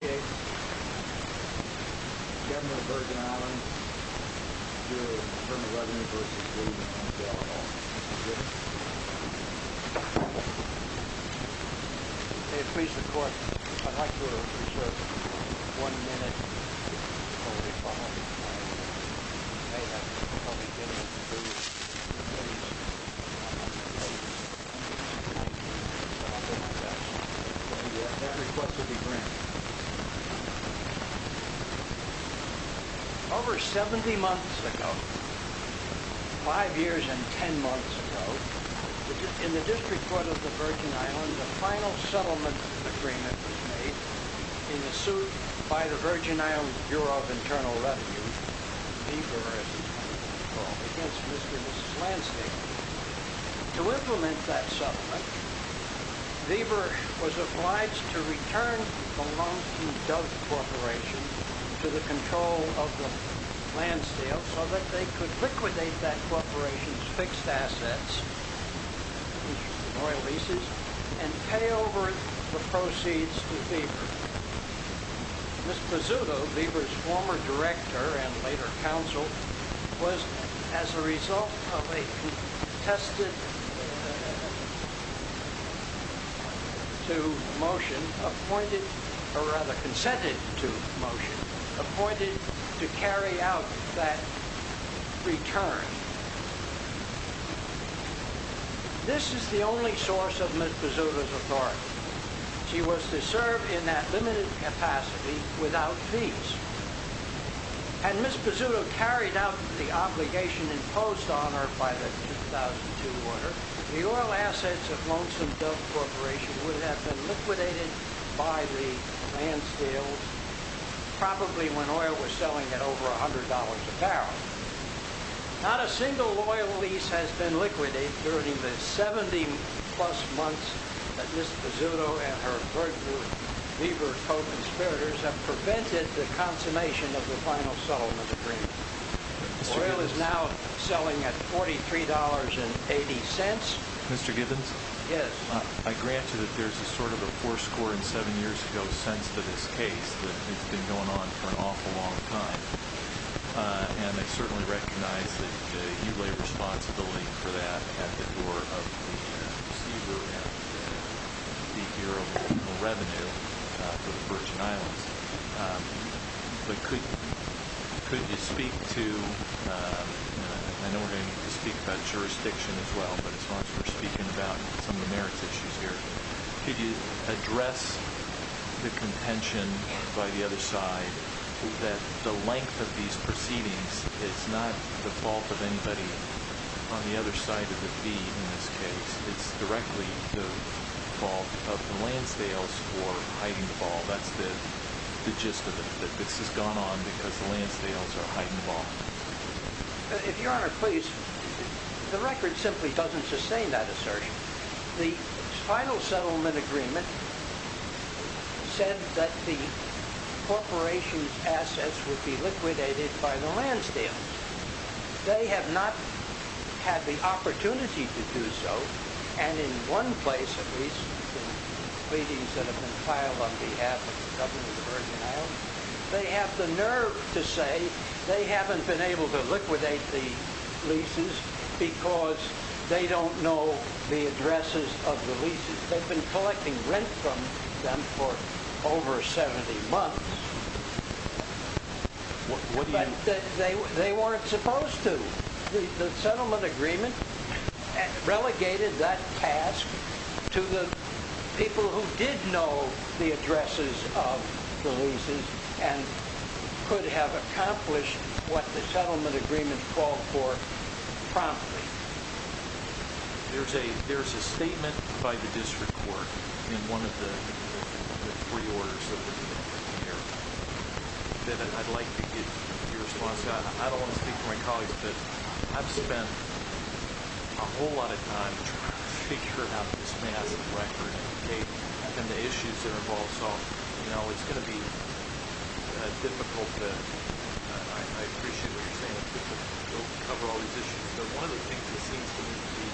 Okay, Governor of Virgin Islands, you're the Attorney General of the University of Cleveland in Lansdale, Illinois. Is that correct? Yes. Okay, please record. One minute. Okay.... Over 70 months ago, five years and ten months ago, in the District Court of the Virgin Islands, a final settlement agreement was made in a suit by the Virgin Islands Bureau of Internal Revenue, VBER, as it's called, against Mr. and Mrs. Lansdale. To implement that settlement, VBER was obliged to return the loan from Dove Corporation to the control of Lansdale so that they could liquidate that corporation's fixed assets, which were oil leases, and pay over the proceeds to VBER. Ms. Pezzuto, VBER's former director and later counsel, was, as a result of a contested to motion, appointed, or rather consented to motion, appointed to carry out that return. This is the only source of Ms. Pezzuto's authority. She was to serve in that limited capacity without fees. Had Ms. Pezzuto carried out the obligation imposed on her by the 2002 order, the oil assets of Lonesome Dove Corporation would have been liquidated by the Lansdales, probably when oil was selling at over $100 a barrel. Not a single oil lease has been liquidated during the 70-plus months that Ms. Pezzuto and her VBER co-conspirators have prevented the consummation of the final settlement agreement. Oil is now selling at $43.80. Mr. Gibbons? Yes. I grant you that there's a sort of a four score and seven years ago sense to this case that it's been going on for an awful long time, and I certainly recognize that you lay responsibility for that at the door of the VBER and the Bureau of Revenue for the Virgin Islands. But could you speak to, I know we're going to need to speak about jurisdiction as well, but as far as we're speaking about some of the merits issues here, could you address the contention by the other side that the length of these proceedings is not the fault of anybody on the other side of the feed in this case. It's directly the fault of the Lansdales for hiding the ball. That's the gist of it, that this has gone on because the Lansdales are hiding the ball. If Your Honor, please, the record simply doesn't sustain that assertion. The final settlement agreement said that the corporation's assets would be liquidated by the Lansdales. They have not had the opportunity to do so, and in one place at least, the pleadings that have been filed on behalf of the government of the Virgin Islands, they have the nerve to say they haven't been able to liquidate the leases because they don't know the addresses of the leases. They've been collecting rent from them for over 70 months. But they weren't supposed to. The settlement agreement relegated that task to the people who did know the addresses of the leases and could have accomplished what the settlement agreement called for promptly. There's a statement by the district court in one of the pre-orders that was in here that I'd like to get your response on. I don't want to speak for my colleagues, but I've spent a whole lot of time trying to figure out this massive record and the issues that are involved. So, you know, it's going to be difficult to... I appreciate what you're saying, but it won't cover all these issues. One of the things that seems to me to be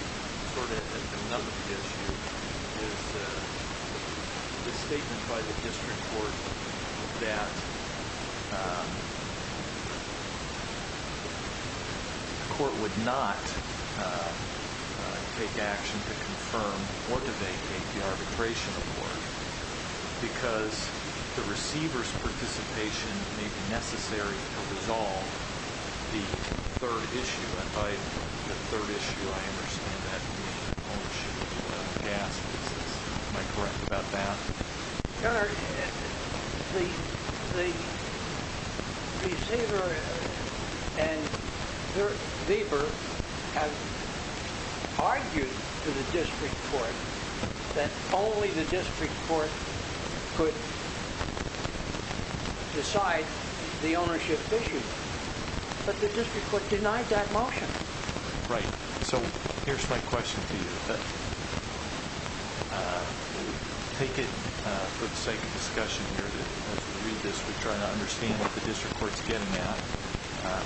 sort of another issue is this statement by the district court that the court would not take action to confirm or to vacate the arbitration report because the receiver's participation may be necessary to resolve the third issue. And by the third issue, I understand that the ownership of the gas leases. Am I correct about that? Your Honor, the receiver and Weber have argued to the district court that only the district court could decide the ownership issue, but the district court denied that motion. Right. So here's my question to you. Take it for the sake of discussion here that as we read this, we try to understand what the district court's getting at.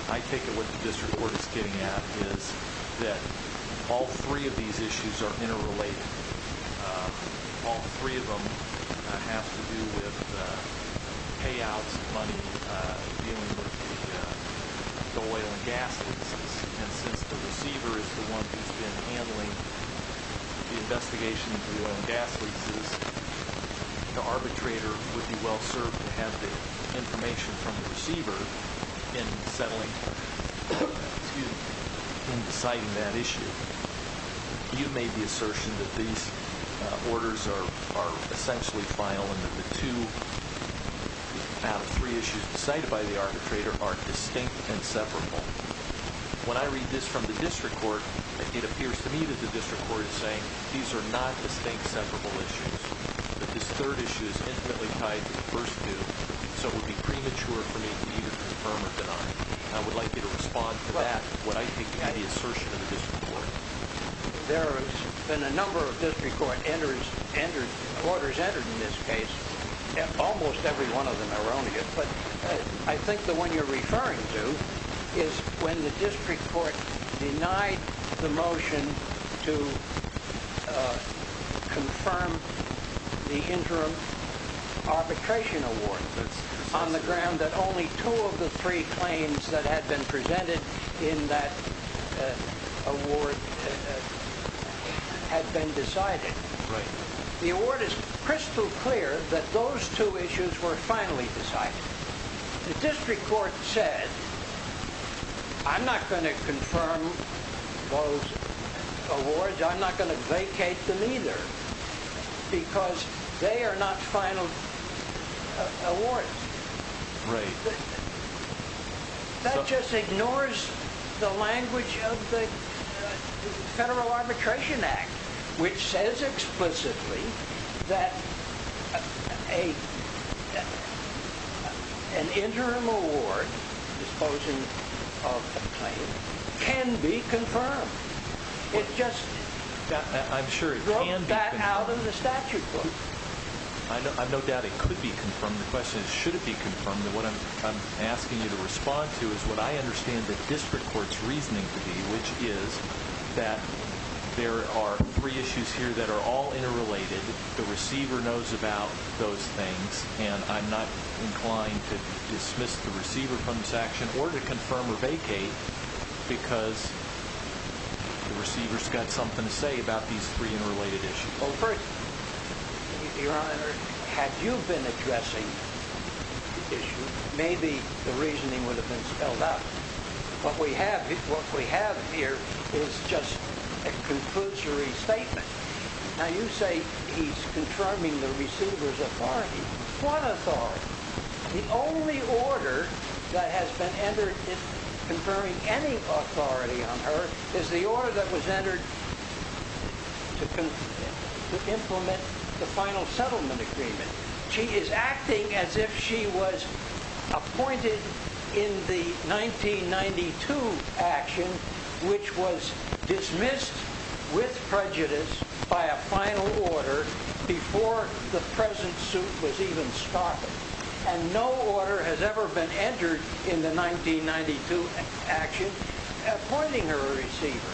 I take it what the district court is getting at is that all three of these issues are interrelated. All three of them have to do with payouts of money dealing with the oil and gas leases. And since the receiver is the one who's been handling the investigation of the oil and gas leases, the arbitrator would be well-served to have the information from the receiver in deciding that issue. You made the assertion that these orders are essentially final and that the two out of three issues decided by the arbitrator are distinct and separable. When I read this from the district court, it appears to me that the district court is saying these are not distinct separable issues, but this third issue is intimately tied to the first two, so it would be premature for me to either confirm or deny. I would like you to respond to that, what I think is the assertion of the district court. There have been a number of district court orders entered in this case. Almost every one of them are on here. But I think the one you're referring to is when the district court denied the motion to confirm the interim arbitration award on the ground that only two of the three claims that had been presented in that award had been decided. The award is crystal clear that those two issues were finally decided. The district court said, I'm not going to confirm those awards. I'm not going to vacate them either because they are not final awards. That just ignores the language of the Federal Arbitration Act which says explicitly that an interim award disposing of a claim can be confirmed. It just broke that out of the statute book. I have no doubt it could be confirmed. The question is should it be confirmed. What I'm asking you to respond to is what I understand the district court's reasoning to be, which is that there are three issues here that are all interrelated. The receiver knows about those things and I'm not inclined to dismiss the receiver from this action or to confirm or vacate because the receiver's got something to say about these three interrelated issues. Well, first, Your Honor, had you been addressing the issue, maybe the reasoning would have been spelled out. What we have here is just a conclusory statement. Now you say he's confirming the receiver's authority. What authority? The only order that has been entered confirming any authority on her is the order that was entered to implement the final settlement agreement. She is acting as if she was appointed in the 1992 action, which was dismissed with prejudice by a final order before the present suit was even started. No order has ever been entered in the 1992 action appointing her a receiver.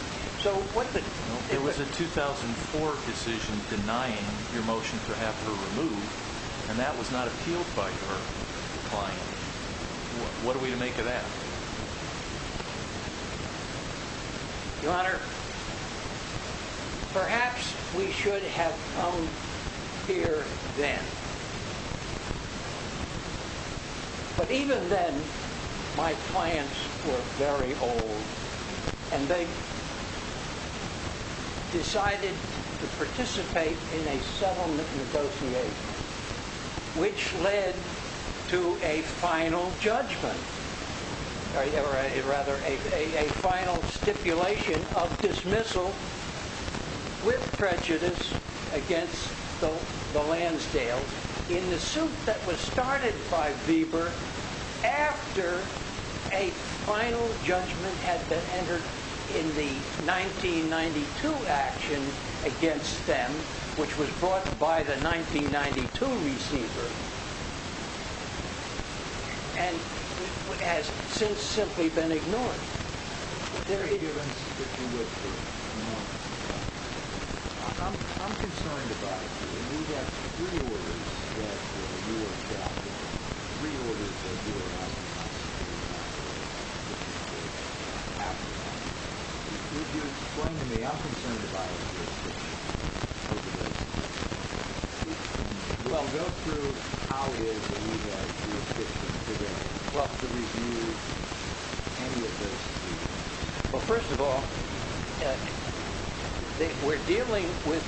There was a 2004 decision denying your motion to have her removed and that was not appealed by her client. What are we to make of that? Your Honor, perhaps we should have come here then. But even then, my clients were very old and they decided to participate in a settlement negotiation, which led to a final judgment, or rather a final stipulation of dismissal with prejudice against the Lansdales in the suit that was started by Weber after a final judgment had been entered in the 1992 action against them, which was brought by the 1992 receiver, and has since simply been ignored. Is there a difference between what you want and what you don't want? I'm concerned about you. You have three orders that you are entitled to. Three orders that you are not entitled to. Could you explain to me? I'm concerned about your position. Well, go through how it is that you have your position today. Well, first of all, we're dealing with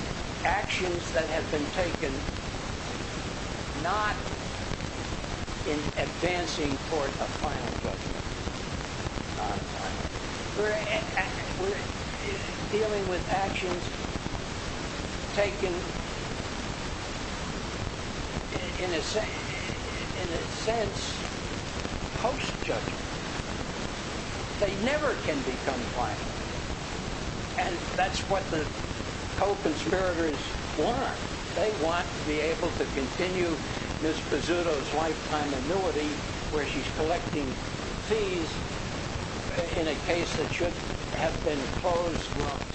actions that have been taken not in advancing toward a final judgment. We're dealing with actions taken in a sense post-judgment. They never can become final. And that's what the co-conspirators want. They want to be able to continue Ms. Pezzuto's lifetime annuity where she's collecting fees in a case that should have been closed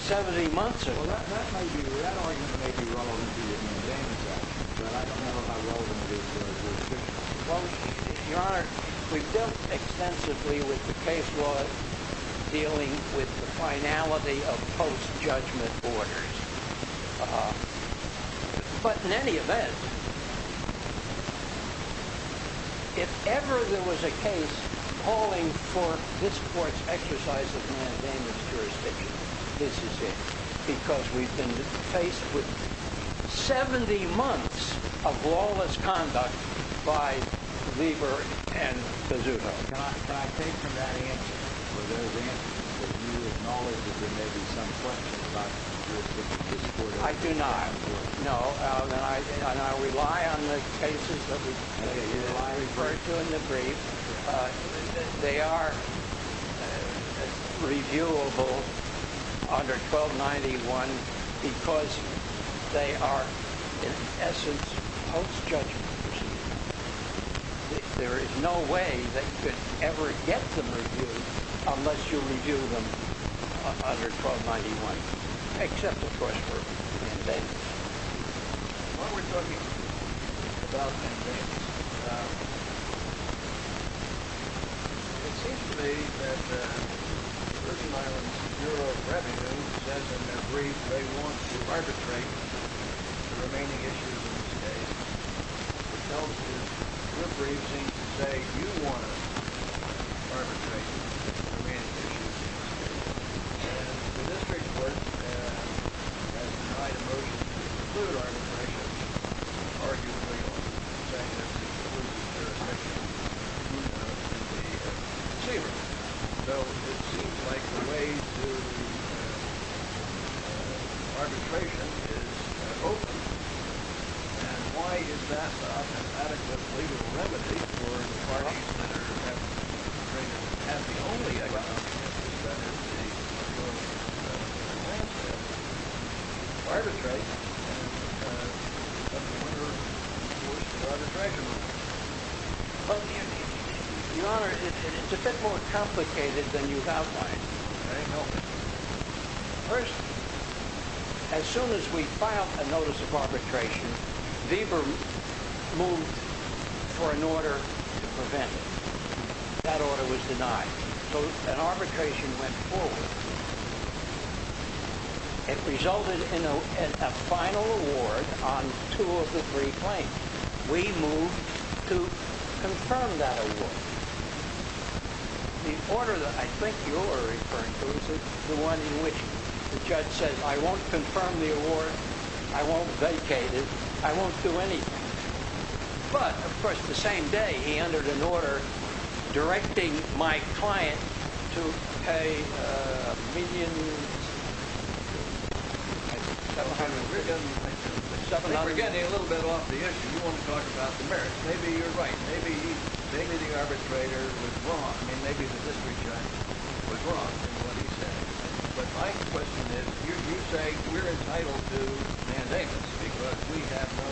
70 months ago. Well, that argument may be relevant to you in advance, but I don't know how relevant it is to a dismissal. Well, Your Honor, we've dealt extensively with the case law dealing with the finality of post-judgment orders. But in any event, if ever there was a case calling for this Court's exercise of mandated jurisdiction, this is it, because we've been faced with 70 months of lawless conduct by Lieber and Pezzuto. Can I take from that answer that you acknowledge that there may be some questions about this Court? I do not, no. And I rely on the cases that I referred to in the brief. They are reviewable under 1291 because they are, in essence, post-judgment proceedings. There is no way that you could ever get them reviewed unless you review them under 1291, except, of course, for mandates. While we're talking about mandates, it seems to me that the Virgin Islands Bureau of Revenue says in their brief that they want to arbitrate the remaining issues of the case. What this tells me is the brief seems to say, you want to arbitrate the remaining issues of the case. And the district court has tried a motion to exclude arbitration, arguably on the basis of excluding jurisdiction to the receiver. So it seems like the way to arbitration is open. And why is that an adequate legal remedy for the parties that are going to have the only excuse, which is that the case is going to be granted, to arbitrate? And I wonder, of course, to arbitration. Your Honor, it's a bit more complicated than you've outlined. First, as soon as we filed a notice of arbitration, Weber moved for an order to prevent it. That order was denied. So an arbitration went forward. It resulted in a final award on two of the three claims. We moved to confirm that award. The order that I think you're referring to is the one in which the judge says, I won't confirm the award. I won't vacate it. I won't do anything. But, of course, the same day he entered an order directing my client to pay $1,000,000. We're getting a little bit off the issue. You want to talk about the merits. Maybe you're right. Maybe the arbitrator was wrong. I mean, maybe the district judge was wrong in what he said. But my question is, you say we're entitled to mandates because we have no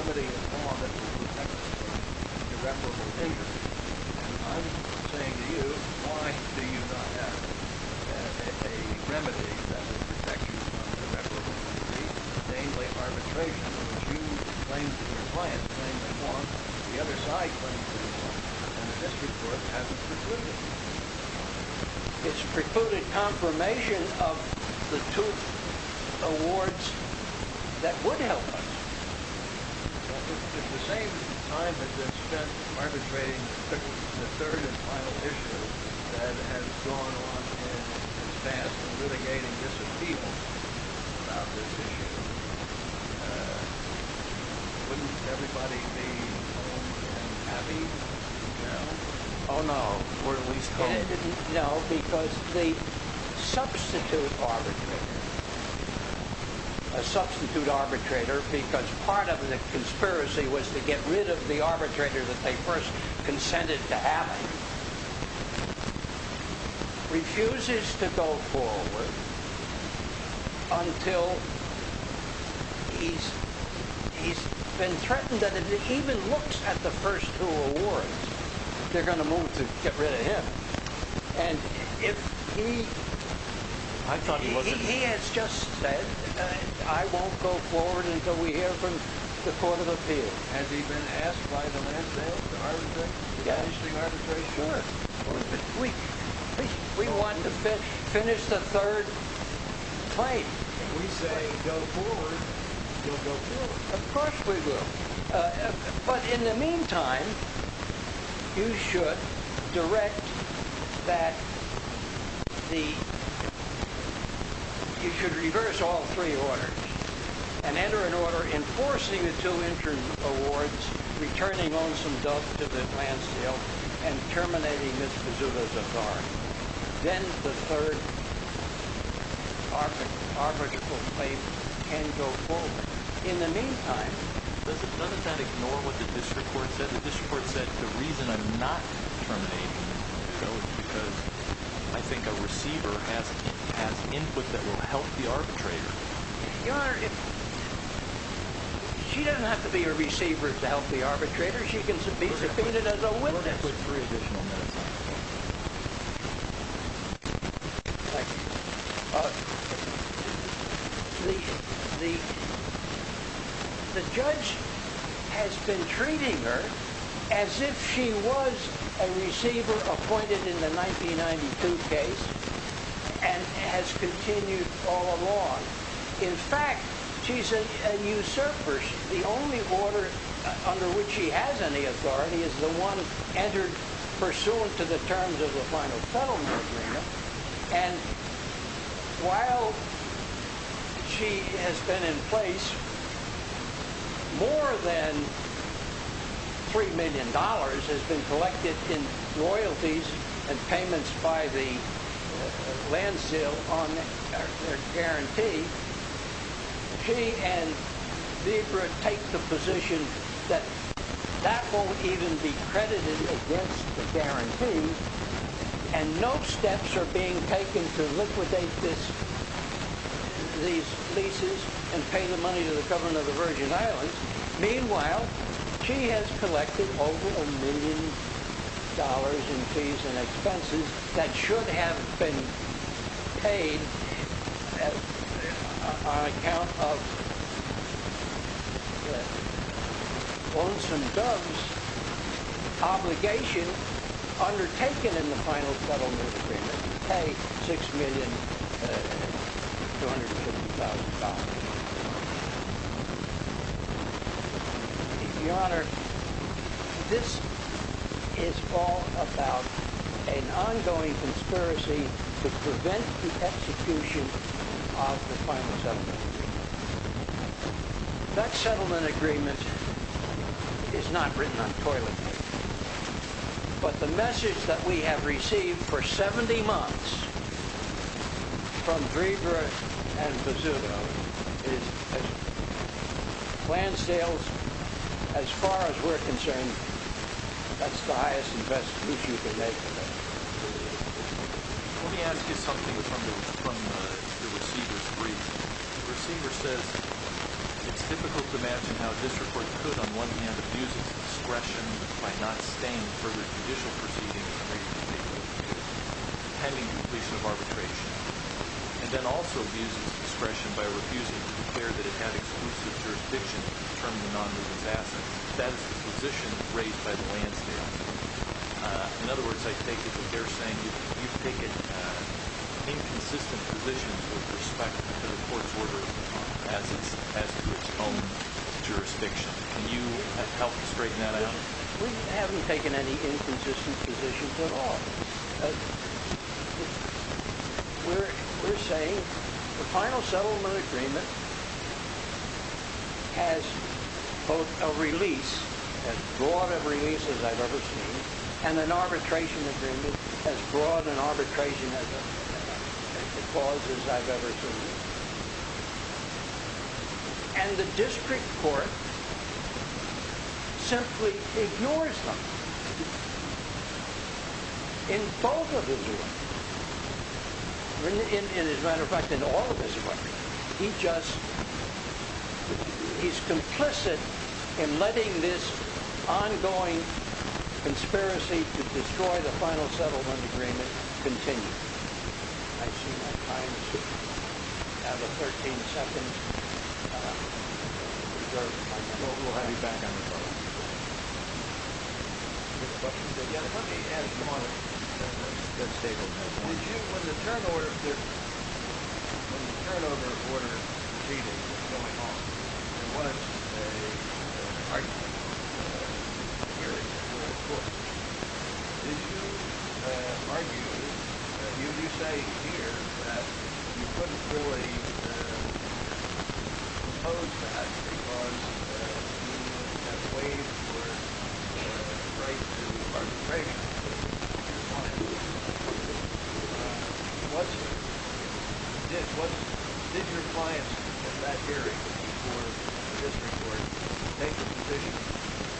remedy in law that would protect us from irreparable injuries. And I'm saying to you, why do you not have a remedy that would protect you from irreparable injuries, namely arbitration, which you claim to your client, claim to want, the other side claims to want, and the district court hasn't precluded? It's precluded confirmation of the two awards that would help us. If the same time has been spent arbitrating the third and final issue that has gone on and passed and litigating disappeals about this issue, wouldn't everybody be home and happy? No? Oh, no. We're at least home. No, because the substitute arbitrator, a substitute arbitrator, because part of the conspiracy was to get rid of the arbitrator that they first consented to having, refuses to go forward until he's been threatened that if he even looks at the first two awards, they're going to move to get rid of him. And if he, he has just said, I won't go forward until we hear from the court of appeals. Has he been asked by the land sales to arbitrate, to finish the arbitration? Sure. We want to finish the third claim. If we say go forward, you'll go forward. Of course we will. But in the meantime, you should direct that the, you should reverse all three orders. And enter an order enforcing the two interim awards, returning lonesome dove to the land sale, and terminating Ms. Pezzuto's authority. Then the third arbitral claim can go forward. In the meantime. Doesn't that ignore what the district court said? The district court said the reason I'm not terminating Ms. Pezzuto is because I think a receiver has input that will help the arbitrator. Your Honor, she doesn't have to be a receiver to help the arbitrator. She can be subpoenaed as a witness. We're going to put three additional minutes on that. Thank you. The judge has been treating her as if she was a receiver appointed in the 1992 case. And has continued all along. In fact, she's a usurper. The only order under which she has any authority is the one entered pursuant to the terms of the final settlement agreement. And while she has been in place, more than $3 million has been collected in royalties and payments by the land sale on their guarantee. She and Deidre take the position that that won't even be credited against the guarantee. And no steps are being taken to liquidate these leases and pay the money to the government of the Virgin Islands. Meanwhile, she has collected over $1 million in fees and expenses that should have been paid on account of the lonesome dove's obligation undertaken in the final settlement agreement to pay $6,250,000. Your Honor, this is all about an ongoing conspiracy to prevent the execution of the final settlement agreement. That settlement agreement is not written on toilet paper. But the message that we have received for 70 months from Drever and Bezzuto is that land sales, as far as we're concerned, that's the highest and best issue they're making. Let me ask you something from the receiver's brief. The receiver says, it's difficult to imagine how this report could, on one hand, abuse its discretion by not staying for the judicial proceedings and pending completion of arbitration, and then also abuse its discretion by refusing to declare that it had exclusive jurisdiction to determine the non-business asset. That is the position raised by the land sales. In other words, I take it that they're saying you've taken inconsistent positions with respect to the court's order as to its own jurisdiction. Can you help to straighten that out? We haven't taken any inconsistent positions at all. We're saying the final settlement agreement has both a release, as broad a release as I've ever seen, and an arbitration agreement as broad an arbitration as a clause as I've ever seen. And the district court simply ignores them in both of his ways. As a matter of fact, in all of his ways. He's complicit in letting this ongoing conspiracy to destroy the final settlement agreement continue. I see my time is up. I have a 13-second reserve time. We'll have you back on the phone. Let me add one good statement. When the turnover order proceeding was going on, there was a partisan hearing in the court. Did you argue, as you say here, that you couldn't really propose that because you have waived your right to arbitration from your client? Did your clients in that hearing before the district court take the position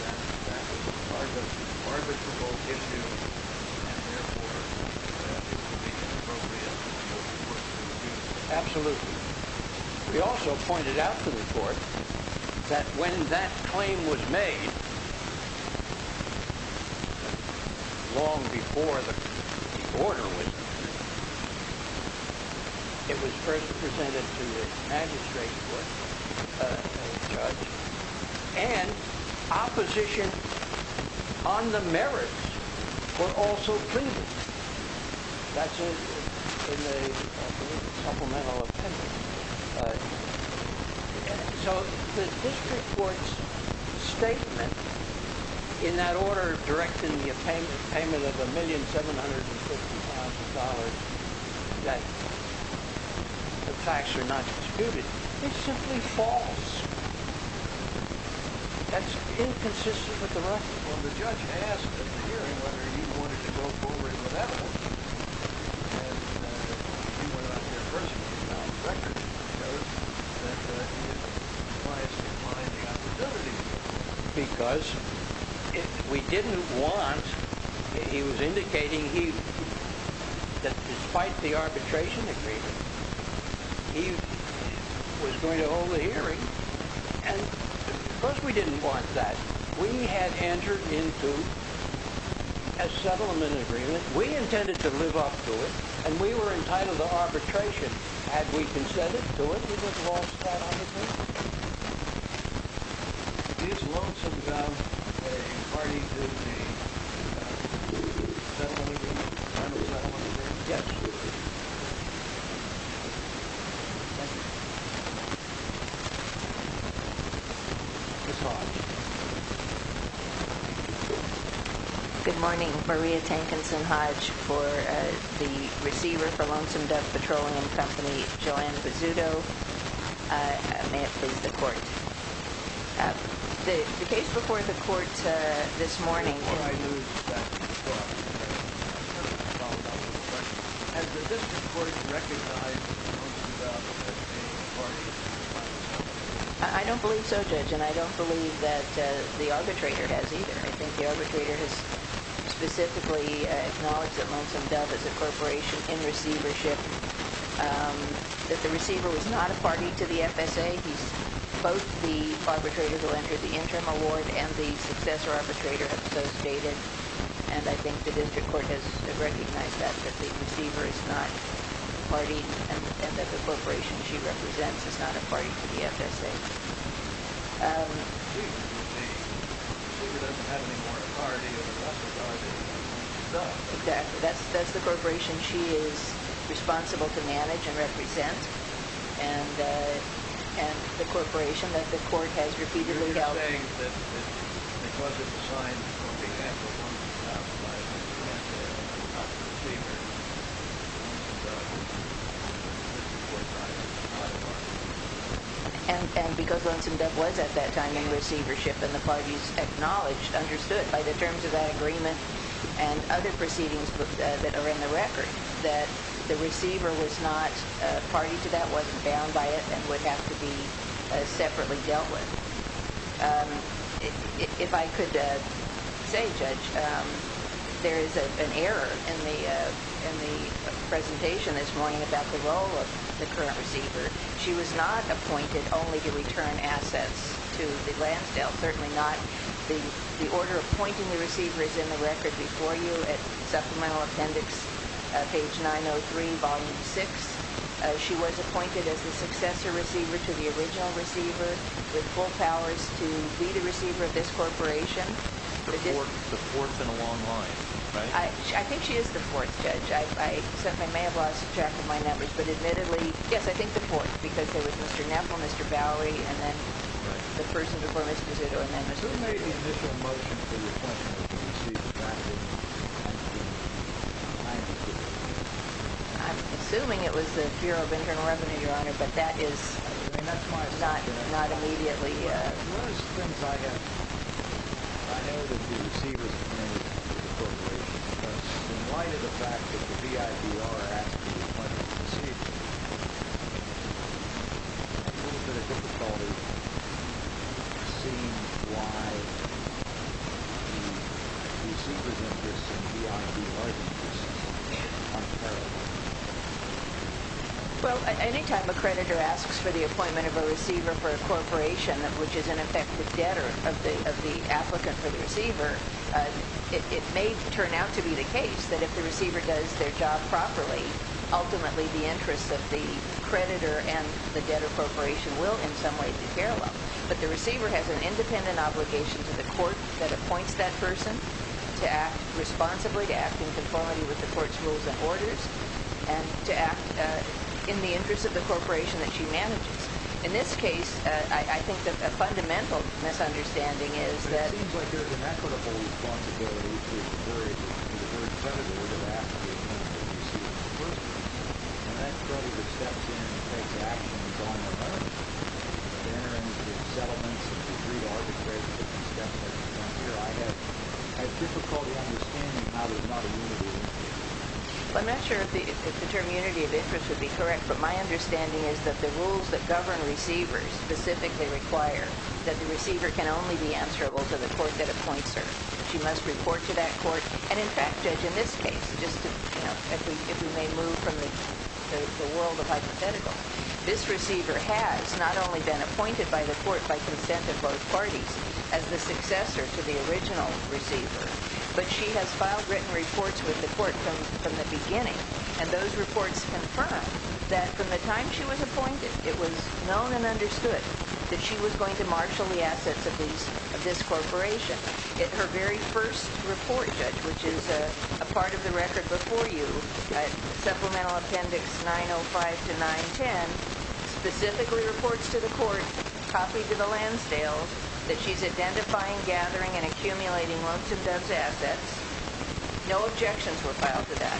that that was an arbitrable issue and therefore that it would be inappropriate for the court to do so? Absolutely. We also pointed out to the court that when that claim was made, long before the order was issued, it was first presented to the magistrate court, a judge, and opposition on the merits were also treated. That's in the supplemental appendix. So the district court's statement in that order directing the payment of $1,750,000 that the facts are not disputed is simply false. That's inconsistent with the record. Well, the judge asked in the hearing whether he wanted to go forward with that order, and he went out there personally and found records that show that his clients didn't find the opportunity to do so. Because we didn't want—he was indicating that despite the arbitration agreement, he was going to hold the hearing. And because we didn't want that, we had entered into a settlement agreement. We intended to live up to it, and we were entitled to arbitration. Had we consented to it, we would have lost that argument. Is Lonesome Dove a party to the settlement agreement? I'm a settler. Yes. Thank you. Ms. Hodge. Good morning. Maria Tankinson Hodge for the receiver for Lonesome Dove Petroleum Company, Joanne Bizzuto. May it please the court. The case before the court this morning— Has the district court recognized Lonesome Dove as a party to the settlement agreement? I don't believe so, Judge, and I don't believe that the arbitrator has either. I think the arbitrator has specifically acknowledged that Lonesome Dove is a corporation in receivership, that the receiver was not a party to the FSA. Both the arbitrator who entered the interim award and the successor arbitrator have so stated, and I think the district court has recognized that, that the receiver is not a party, and that the corporation she represents is not a party to the FSA. Exactly. That's the corporation she is responsible to manage and represent, and the corporation that the court has repeatedly held. And because Lonesome Dove was at that time in receivership, and the parties acknowledged, understood by the terms of that agreement and other proceedings that are in the record, that the receiver was not a party to that, wasn't bound by it, and would have to be separately dealt with. If I could say, Judge, there is an error in the presentation this morning about the role of the current receiver. She was not appointed only to return assets to the Lansdale. The order appointing the receiver is in the record before you at supplemental appendix page 903, volume 6. She was appointed as the successor receiver to the original receiver, with full powers to be the receiver of this corporation. The fourth in a long line, right? I think she is the fourth, Judge. I may have lost track of my numbers, but admittedly, yes, I think the fourth, because there was Mr. Nepple, Mr. Bowery, and then the person before Mr. Zutto. Who made the initial motion for the appointment of the receiver back in 1992? I'm assuming it was the Bureau of Internal Revenue, Your Honor, but that is much more than that. Not immediately. One of the things I know, I know that the receiver is appointed to the corporation, but in light of the fact that the BIDR asked for the appointment of the receiver, I have a little bit of difficulty seeing why the receivers of this and BIDR do this. Well, any time a creditor asks for the appointment of a receiver for a corporation, which is in effect the debtor of the applicant for the receiver, it may turn out to be the case that if the receiver does their job properly, ultimately the interests of the creditor and the debtor corporation will in some way be paralleled. But the receiver has an independent obligation to the court that appoints that person to act responsibly, to act in conformity with the court's rules and orders, and to act in the interest of the corporation that she manages. In this case, I think a fundamental misunderstanding is that it seems like there is an equitable responsibility to the creditor to have asked for the appointment of the receiver for the person, and that creditor steps in and takes action. It's on her own. They're entering into settlements. It's a free arbitration. It's definitely not here. I have difficulty understanding how there's not a unity of interest. I'm not sure if the term unity of interest would be correct, but my understanding is that the rules that govern receivers specifically require that the receiver can only be answerable to the court that appoints her. She must report to that court, and in fact, Judge, in this case, just if we may move from the world of hypothetical, this receiver has not only been appointed by the court by consent of both parties as the successor to the original receiver, but she has filed written reports with the court from the beginning, and those reports confirm that from the time she was appointed, it was known and understood that she was going to marshal the assets of this corporation. Her very first report, Judge, which is a part of the record before you, Supplemental Appendix 905-910, specifically reports to the court, copied to the Lansdale, that she's identifying, gathering, and accumulating lots of those assets. No objections were filed to that.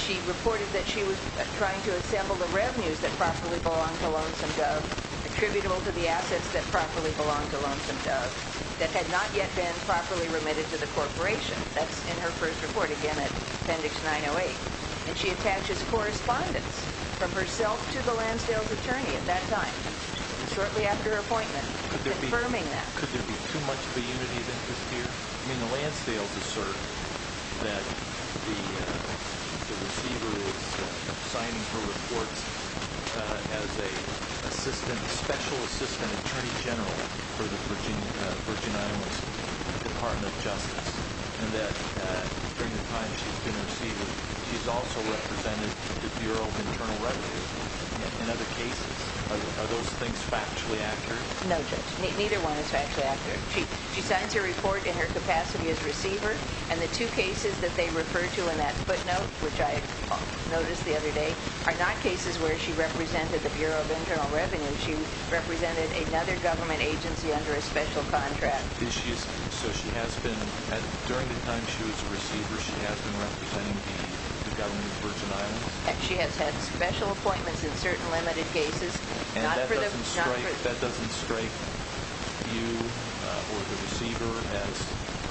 She reported that she was trying to assemble the revenues that properly belonged to Lonesome Dove, attributable to the assets that properly belonged to Lonesome Dove, that had not yet been properly remitted to the corporation. That's in her first report, again, Appendix 908, and she attaches correspondence from herself to the Lansdale's attorney at that time, shortly after her appointment, confirming that. Could there be too much of a unity of interest here? The Lansdales assert that the receiver is signing her reports as a special assistant attorney general for the Virginia Department of Justice, and that during the time she's been a receiver, she's also represented the Bureau of Internal Revenue in other cases. Are those things factually accurate? No, Judge, neither one is factually accurate. She signs her report in her capacity as receiver, and the two cases that they refer to in that footnote, which I noticed the other day, are not cases where she represented the Bureau of Internal Revenue. She represented another government agency under a special contract. So during the time she was a receiver, she has been representing the government of Virgin Islands? She has had special appointments in certain limited cases. And that doesn't strike you or the receiver as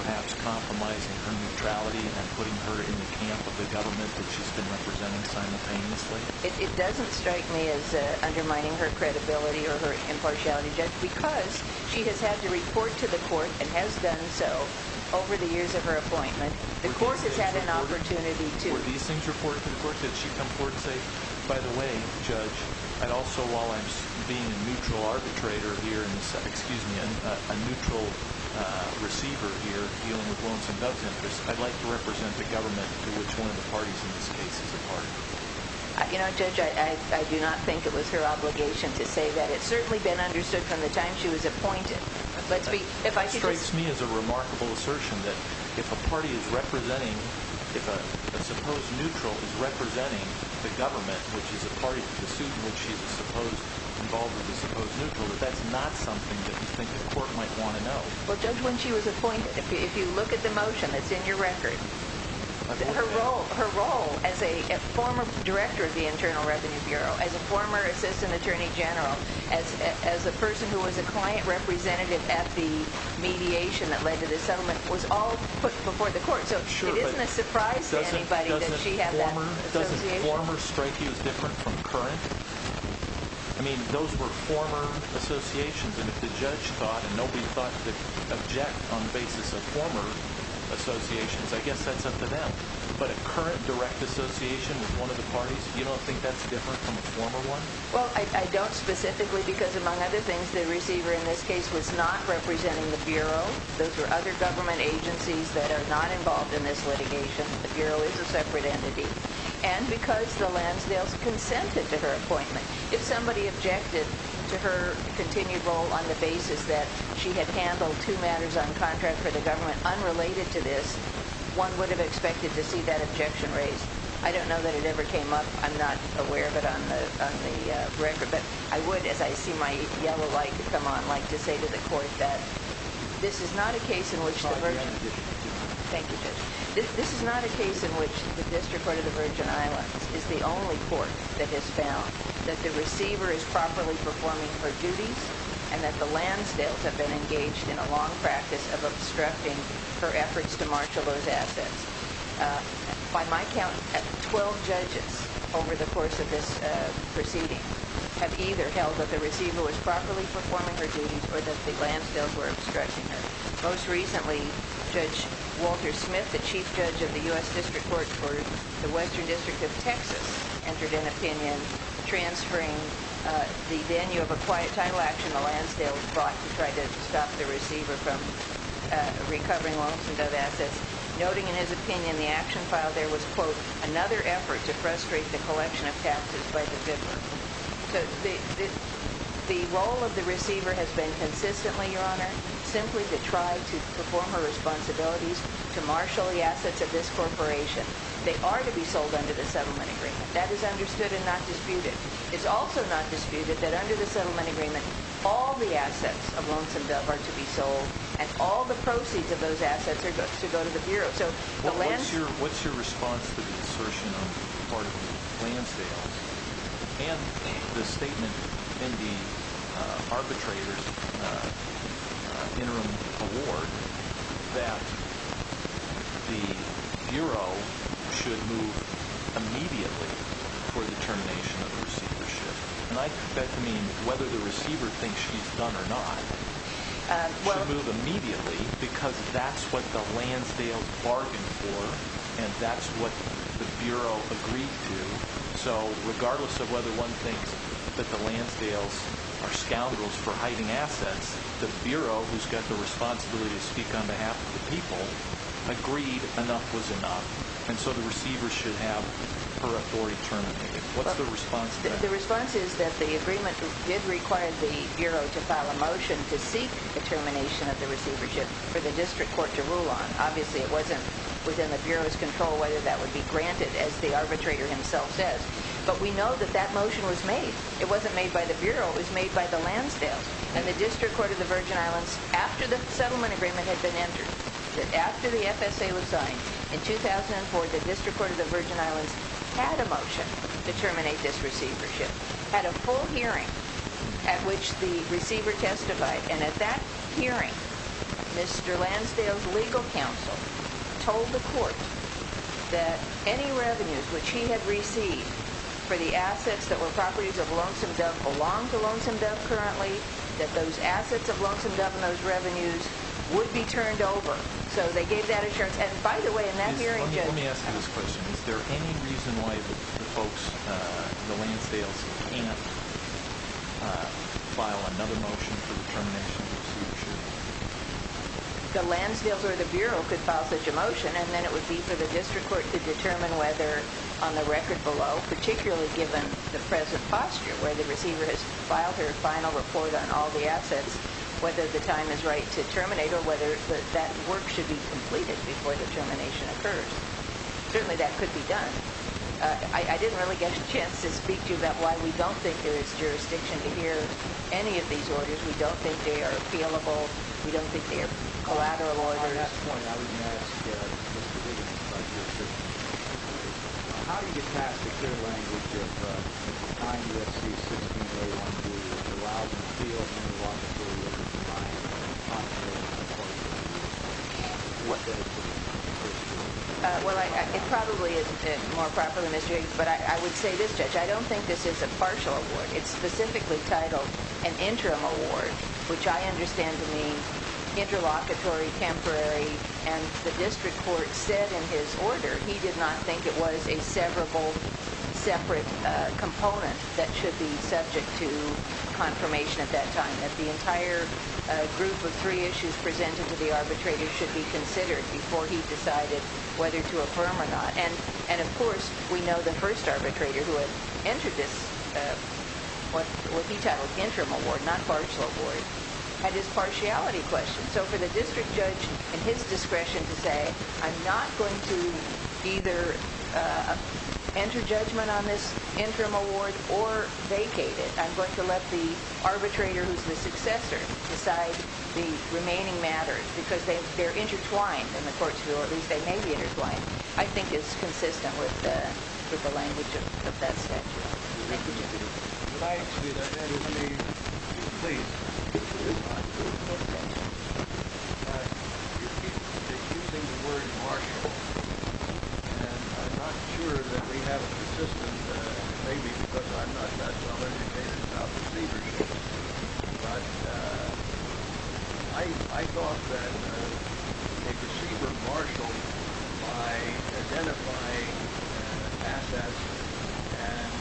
perhaps compromising her neutrality and putting her in the camp of the government that she's been representing simultaneously? It doesn't strike me as undermining her credibility or her impartiality, Judge, because she has had to report to the court, and has done so over the years of her appointment. The court has had an opportunity to— Were these things reported to the court? By the way, Judge, I'd also, while I'm being a neutral arbitrator here— excuse me, a neutral receiver here dealing with loans and debt interests, I'd like to represent the government to which one of the parties in this case is a party. You know, Judge, I do not think it was her obligation to say that. It's certainly been understood from the time she was appointed. It strikes me as a remarkable assertion that if a party is representing— if a supposed neutral is representing the government, which is a party, the suit in which she's involved with is supposed neutral, that that's not something that we think the court might want to know. Well, Judge, when she was appointed, if you look at the motion that's in your record, her role as a former director of the Internal Revenue Bureau, as a former assistant attorney general, as a person who was a client representative at the mediation that led to the settlement, was all put before the court. So it isn't a surprise to anybody that she had that association. Doesn't former strike you as different from current? I mean, those were former associations, and if the judge thought and nobody thought to object on the basis of former associations, I guess that's up to them. But a current direct association with one of the parties, you don't think that's different from a former one? Well, I don't specifically because, among other things, the receiver in this case was not representing the Bureau. Those were other government agencies that are not involved in this litigation. The Bureau is a separate entity. And because the Lansdales consented to her appointment. If somebody objected to her continued role on the basis that she had handled two matters on contract for the government unrelated to this, one would have expected to see that objection raised. I don't know that it ever came up. I'm not aware of it on the record. But I would, as I see my yellow light come on, like to say to the court that this is not a case in which the Virgin Islands is the only court that has found that the receiver is properly performing her duties and that the Lansdales have been engaged in a long practice of obstructing her efforts to marshal those assets. By my count, 12 judges over the course of this proceeding have either held that the receiver was properly performing her duties or that the Lansdales were obstructing her. Most recently, Judge Walter Smith, the chief judge of the U.S. District Court for the Western District of Texas, entered an opinion transferring the venue of a quiet title action the Lansdales brought to try to stop the receiver from recovering long-signatured assets, to frustrate the collection of taxes by the bidder. The role of the receiver has been consistently, Your Honor, simply to try to perform her responsibilities to marshal the assets of this corporation. They are to be sold under the settlement agreement. That is understood and not disputed. It's also not disputed that under the settlement agreement, all the assets of Lonesome Dove are to be sold and all the proceeds of those assets are to go to the Bureau. What's your response to the assertion on the part of the Lansdales and the statement in the arbitrator's interim award that the Bureau should move immediately for the termination of receivership? And I mean whether the receiver thinks she's done or not. Should move immediately because that's what the Lansdales bargained for and that's what the Bureau agreed to. So regardless of whether one thinks that the Lansdales are scoundrels for hiding assets, the Bureau, who's got the responsibility to speak on behalf of the people, agreed enough was enough and so the receiver should have her authority terminated. What's the response to that? The response is that the agreement did require the Bureau to file a motion to seek the termination of the receivership for the District Court to rule on. Obviously, it wasn't within the Bureau's control whether that would be granted, as the arbitrator himself says, but we know that that motion was made. It wasn't made by the Bureau. It was made by the Lansdales and the District Court of the Virgin Islands, after the settlement agreement had been entered, after the FSA was signed in 2004, the District Court of the Virgin Islands had a motion to terminate this receivership, had a full hearing at which the receiver testified, and at that hearing, Mr. Lansdale's legal counsel told the court that any revenues which he had received for the assets that were properties of Lonesome Dove belong to Lonesome Dove currently, that those assets of Lonesome Dove and those revenues would be turned over. So they gave that assurance, and by the way, in that hearing, Let me ask you this question. Is there any reason why the folks at the Lansdales can't file another motion for the termination of the receivership? The Lansdales or the Bureau could file such a motion, and then it would be for the District Court to determine whether, on the record below, particularly given the present posture, where the receiver has filed her final report on all the assets, whether the time is right to terminate or whether that work should be completed before the termination occurs. Certainly that could be done. I didn't really get a chance to speak to you about why we don't think there is jurisdiction to hear any of these orders. We don't think they are appealable. We don't think they are collateral orders. On that point, I was going to ask Mr. Williams about your position. How do you pass the clear language of the time you have seen 16 days, 16 months, 2 years, 2 hours, 3 or 4 months, 2 years in time, and the posture of the court? What does it mean? Well, it probably is more proper than this, but I would say this, Judge. I don't think this is a partial award. It's specifically titled an interim award, which I understand to mean interlocutory, temporary, and the District Court said in his order he did not think it was a severable separate component that should be subject to confirmation at that time, that the entire group of three issues presented to the arbitrator should be considered before he decided whether to affirm or not. And, of course, we know the first arbitrator who had entered this, what he titled interim award, not partial award, had his partiality question. So for the district judge and his discretion to say, I'm not going to either enter judgment on this interim award or vacate it. I'm going to let the arbitrator who's the successor decide the remaining matters because they're intertwined in the courts, or at least they may be intertwined, I think is consistent with the language of that statute. Thank you, Judge. I'd like to be the head of the plea. You keep using the word partial, and I'm not sure that we have a consistent, maybe because I'm not that well-educated about receivership, but I thought that a receiver partial, by identifying assets and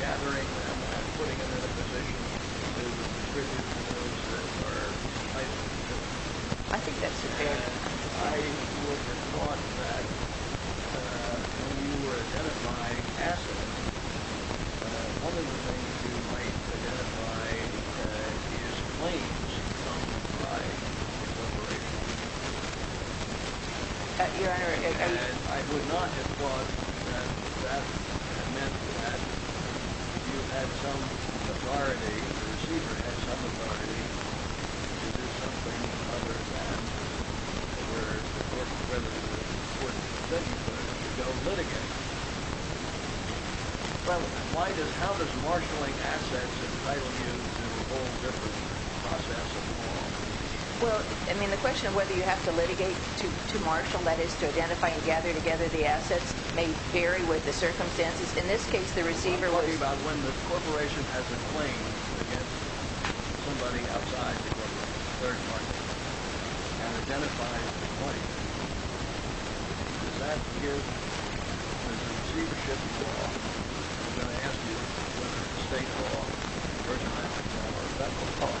gathering them and putting them in a position to distribute to those that are entitled to them, I would have thought that when you were identifying assets, one of the things you might identify is claims from private corporations. Your Honor, I would not have thought that that meant that you had some authority or the receiver had some authority to do something other than where it's an important thing to go litigate. How does marshaling assets entitle you to a whole different process? The question of whether you have to litigate to marshal, that is to identify and gather together the assets, may vary with the circumstances. In this case, the receiver was— I'm talking about when the corporation has a claim against somebody outside the corporation, and identifies a claim, does that give the receivership law? I'm going to ask you whether state law or federal law,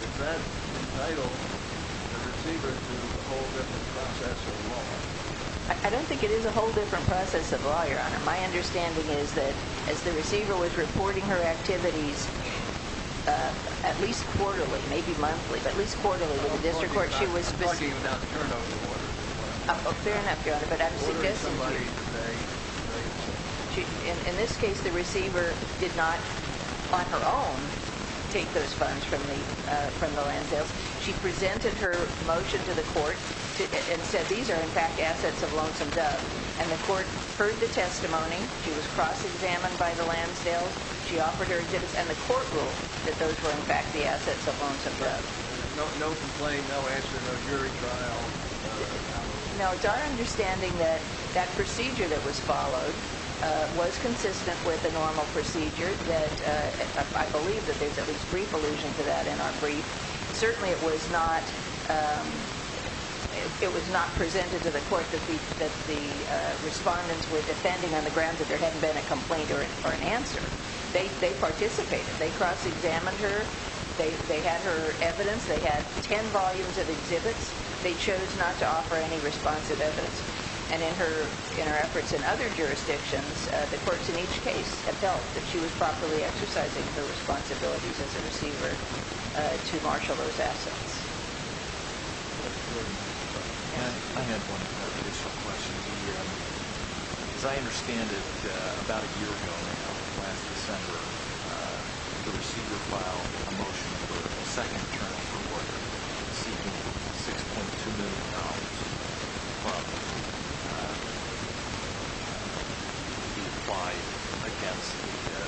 does that entitle the receiver to a whole different process of law? I don't think it is a whole different process of law, Your Honor. My understanding is that as the receiver was reporting her activities, at least quarterly, maybe monthly, but at least quarterly to the district court, she was— I'm talking about the turnover order. Fair enough, Your Honor, but I'm suggesting to you— Ordering somebody to make claims. In this case, the receiver did not, on her own, take those funds from the Lansdales. She presented her motion to the court and said, these are in fact assets of Lonesome Dove. And the court heard the testimony. She was cross-examined by the Lansdales. And the court ruled that those were in fact the assets of Lonesome Dove. No complaint, no answer, no jury trial. No, it's our understanding that that procedure that was followed was consistent with a normal procedure. I believe that there's at least brief allusion to that in our brief. Certainly, it was not presented to the court that the respondents were defending on the grounds that there hadn't been a complaint or an answer. They participated. They cross-examined her. They had her evidence. They had ten volumes of exhibits. They chose not to offer any responsive evidence. And in her efforts in other jurisdictions, the courts in each case have felt that she was properly exercising her responsibilities as a receiver to marshal those assets. I have one additional question. As I understand it, about a year ago now, last December, the receiver filed a motion for a second term in her order, seeking $6.2 million from her to be applied against the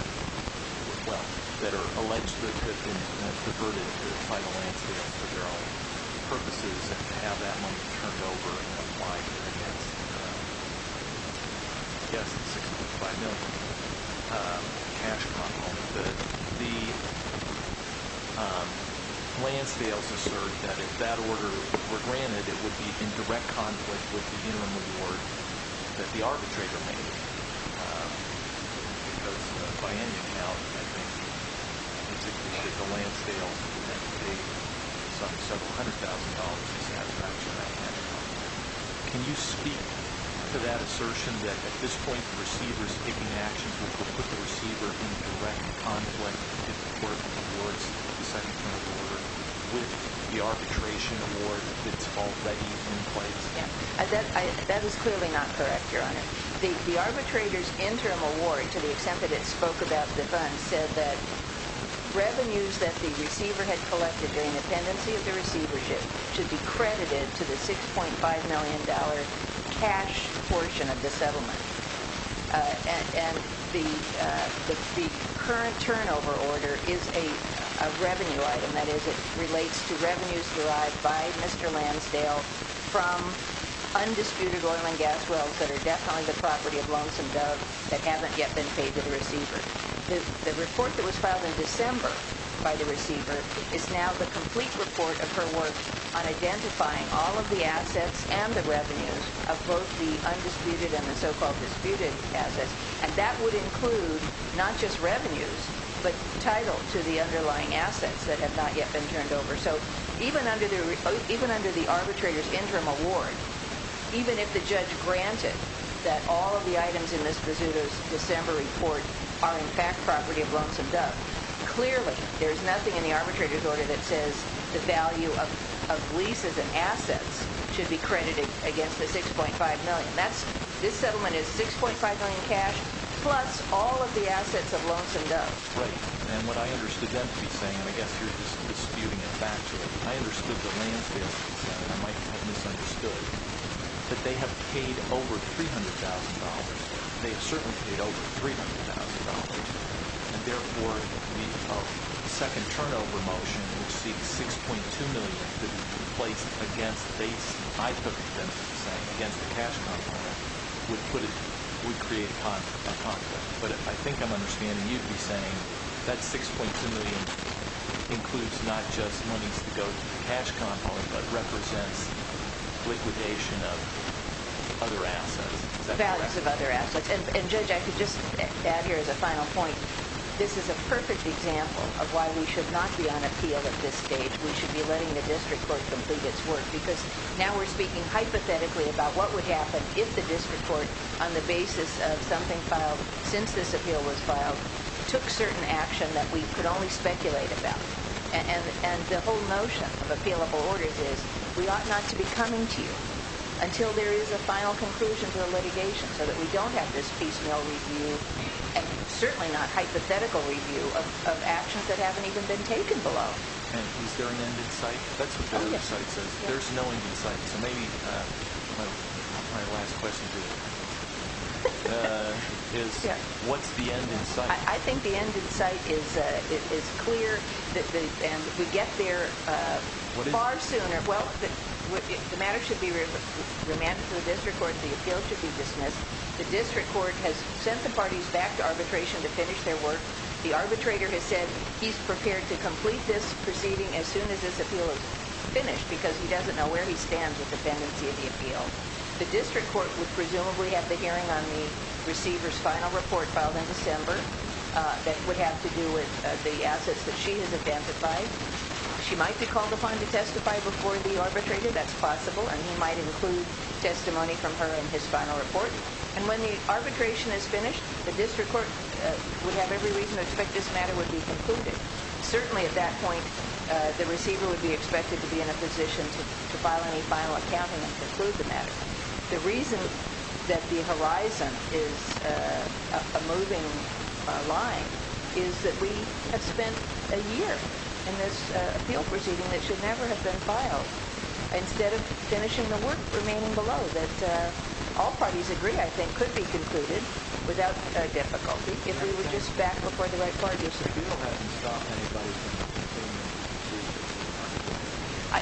wealth that are alleged to have been diverted to the final Lansdales for their own purposes and to have that money turned over and applied against, I guess, the $6.5 million cash prompt. The Lansdales assert that if that order were granted, it would be in direct conflict with the interim award that the arbitrator made. Because, by any account, I think that the Lansdales, that they sunk several hundred thousand dollars in satisfaction with that cash prompt. Can you speak to that assertion that, at this point, the receiver is taking action to put the receiver in direct conflict with the court towards the second term of the order with the arbitration award that's already in place? That is clearly not correct, Your Honor. The arbitrator's interim award, to the extent that it spoke about the funds, said that revenues that the receiver had collected during the pendency of the receivership should be credited to the $6.5 million cash portion of the settlement. And the current turnover order is a revenue item. That is, it relates to revenues derived by Mr. Lansdale from undisputed oil and gas wells that are definitely the property of Lonesome Dove that haven't yet been paid to the receiver. The report that was filed in December by the receiver is now the complete report of her work on identifying all of the assets and the revenues of both the undisputed and the so-called disputed assets. And that would include not just revenues, but title to the underlying assets that have not yet been turned over. So even under the arbitrator's interim award, even if the judge granted that all of the items in Ms. Vizzuto's December report are in fact property of Lonesome Dove, clearly there's nothing in the arbitrator's order that says the value of leases and assets should be credited against the $6.5 million. This settlement is $6.5 million cash plus all of the assets of Lonesome Dove. Right. And what I understood them to be saying, and I guess you're disputing it back to them, I understood that Lansdale said, and I might have misunderstood, that they have paid over $300,000. They have certainly paid over $300,000. And therefore, the second turnover motion, which seeks $6.2 million to be placed against, I took it then to be saying against the cash compound, would create a conflict. But I think I'm understanding you to be saying that $6.2 million includes not just monies to go to the cash compound, but represents liquidation of other assets. Values of other assets. And Judge, I could just add here as a final point, this is a perfect example of why we should not be on appeal at this stage. We should be letting the district court complete its work. Because now we're speaking hypothetically about what would happen if the district court, on the basis of something filed since this appeal was filed, took certain action that we could only speculate about. And the whole notion of appealable orders is we ought not to be coming to you until there is a final conclusion to the litigation so that we don't have this piecemeal review, and certainly not hypothetical review of actions that haven't even been taken below. And is there an end in sight? That's what the end in sight says. There's no end in sight. So maybe my last question to you is what's the end in sight? I think the end in sight is clear, and we get there far sooner. Well, the matter should be remanded to the district court. The appeal should be dismissed. The district court has sent the parties back to arbitration to finish their work. The arbitrator has said he's prepared to complete this proceeding as soon as this appeal is finished because he doesn't know where he stands with dependency of the appeal. The district court would presumably have the hearing on the receiver's final report filed in December that would have to do with the assets that she has identified. She might be called upon to testify before the arbitrator. That's possible. And he might include testimony from her in his final report. And when the arbitration is finished, the district court would have every reason to expect this matter would be concluded. Certainly at that point, the receiver would be expected to be in a position to file any final accounting and conclude the matter. The reason that the horizon is a moving line is that we have spent a year in this appeal proceeding that should never have been filed instead of finishing the work remaining below that all parties agree, I think, could be concluded without difficulty if we were just back before the right parties. The appeal hasn't stopped anybody from continuing to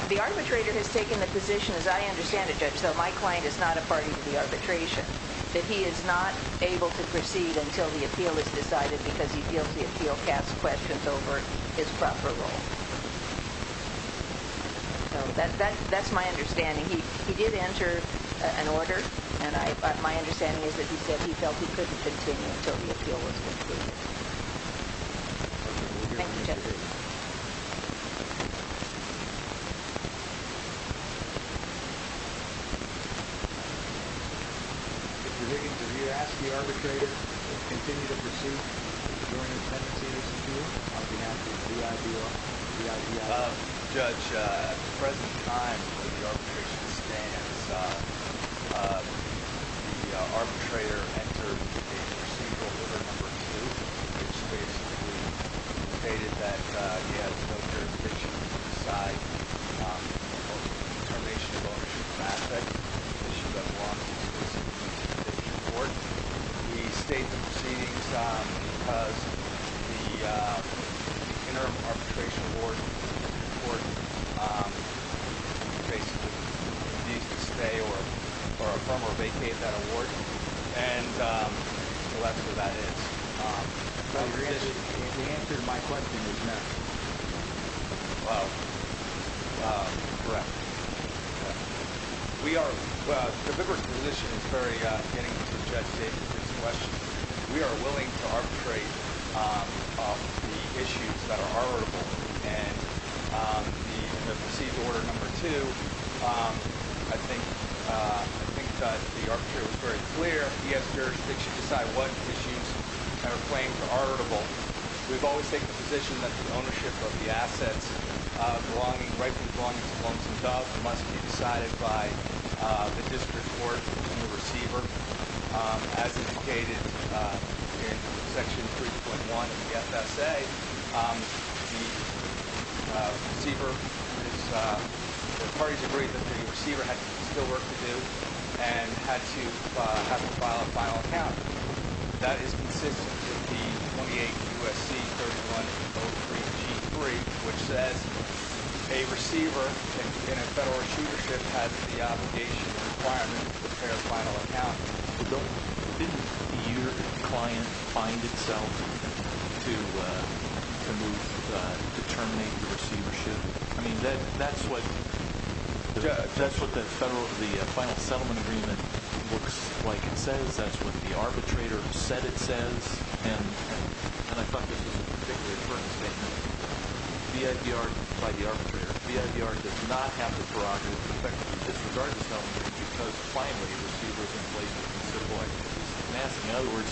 proceed? The arbitrator has taken the position, as I understand it, Judge, though my client is not a party to the arbitration, that he is not able to proceed until the appeal is decided because he feels the appeal casts questions over his proper role. So that's my understanding. He did enter an order. And my understanding is that he said he felt he couldn't continue until the appeal was concluded. Thank you, Judge. Mr. Higgins, have you asked the arbitrator to continue to pursue the joining of Penitentiary Superior on behalf of the IBO? Judge, at the present time where the arbitration stands, the arbitrator entered a procedural order No. 2, which basically stated that he has no jurisdiction to decide the termination of ownership of an asset, an issue that belongs to the Penitentiary Superior Court. He stated the proceedings because the Interim Arbitration Court basically needs to stay or affirm or vacate that award. And that's what that is. The answer to my question is no. Well, you're correct. We are – the member's position is very getting to Judge Higgins' question. We are willing to arbitrate the issues that are arbitrable. And the proceeded order No. 2, I think that the arbitrator was very clear. He has jurisdiction to decide what issues that are claimed to be arbitrable. We've always taken the position that the ownership of the assets rightfully belonging to Columns and Dove must be decided by the district court and the receiver, as indicated in Section 3.1 of the FSA. The receiver is – the parties agreed that the receiver had still work to do and had to file a final account. That is consistent with the 28 U.S.C. 3103G3, which says a receiver in a federal receivership has the obligation and requirement to prepare a final account. Didn't your client find itself to move – to terminate the receivership? I mean, that's what the federal – the final settlement agreement looks like it says. That's what the arbitrator said it says. And I thought this was a particularly important statement. The FDR – by the arbitrator, the FDR does not have the prerogative to effectively disregard the settlement agreement because finally the receiver is in place. So, boy, it's a mess. In other words,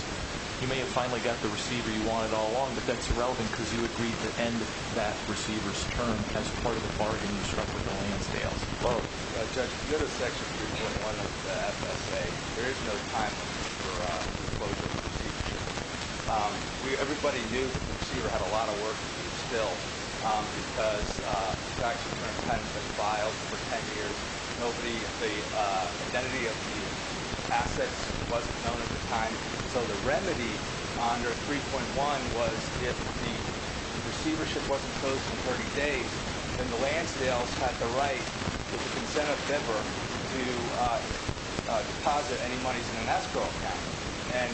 you may have finally got the receiver you wanted all along, but that's irrelevant because you agreed to end that receiver's term as part of the bargain you struck with the Lansdales. Well, Judge, in the other Section 3.1 of the FSA, there is no time limit for the closure of the receivership. Everybody knew that the receiver had a lot of work to do still because transactions were attempted and filed for 10 years. Nobody – the identity of the assets wasn't known at the time. So the remedy under 3.1 was if the receivership wasn't closed in 30 days, then the Lansdales had the right with the consent of Denver to deposit any monies in an escrow account. And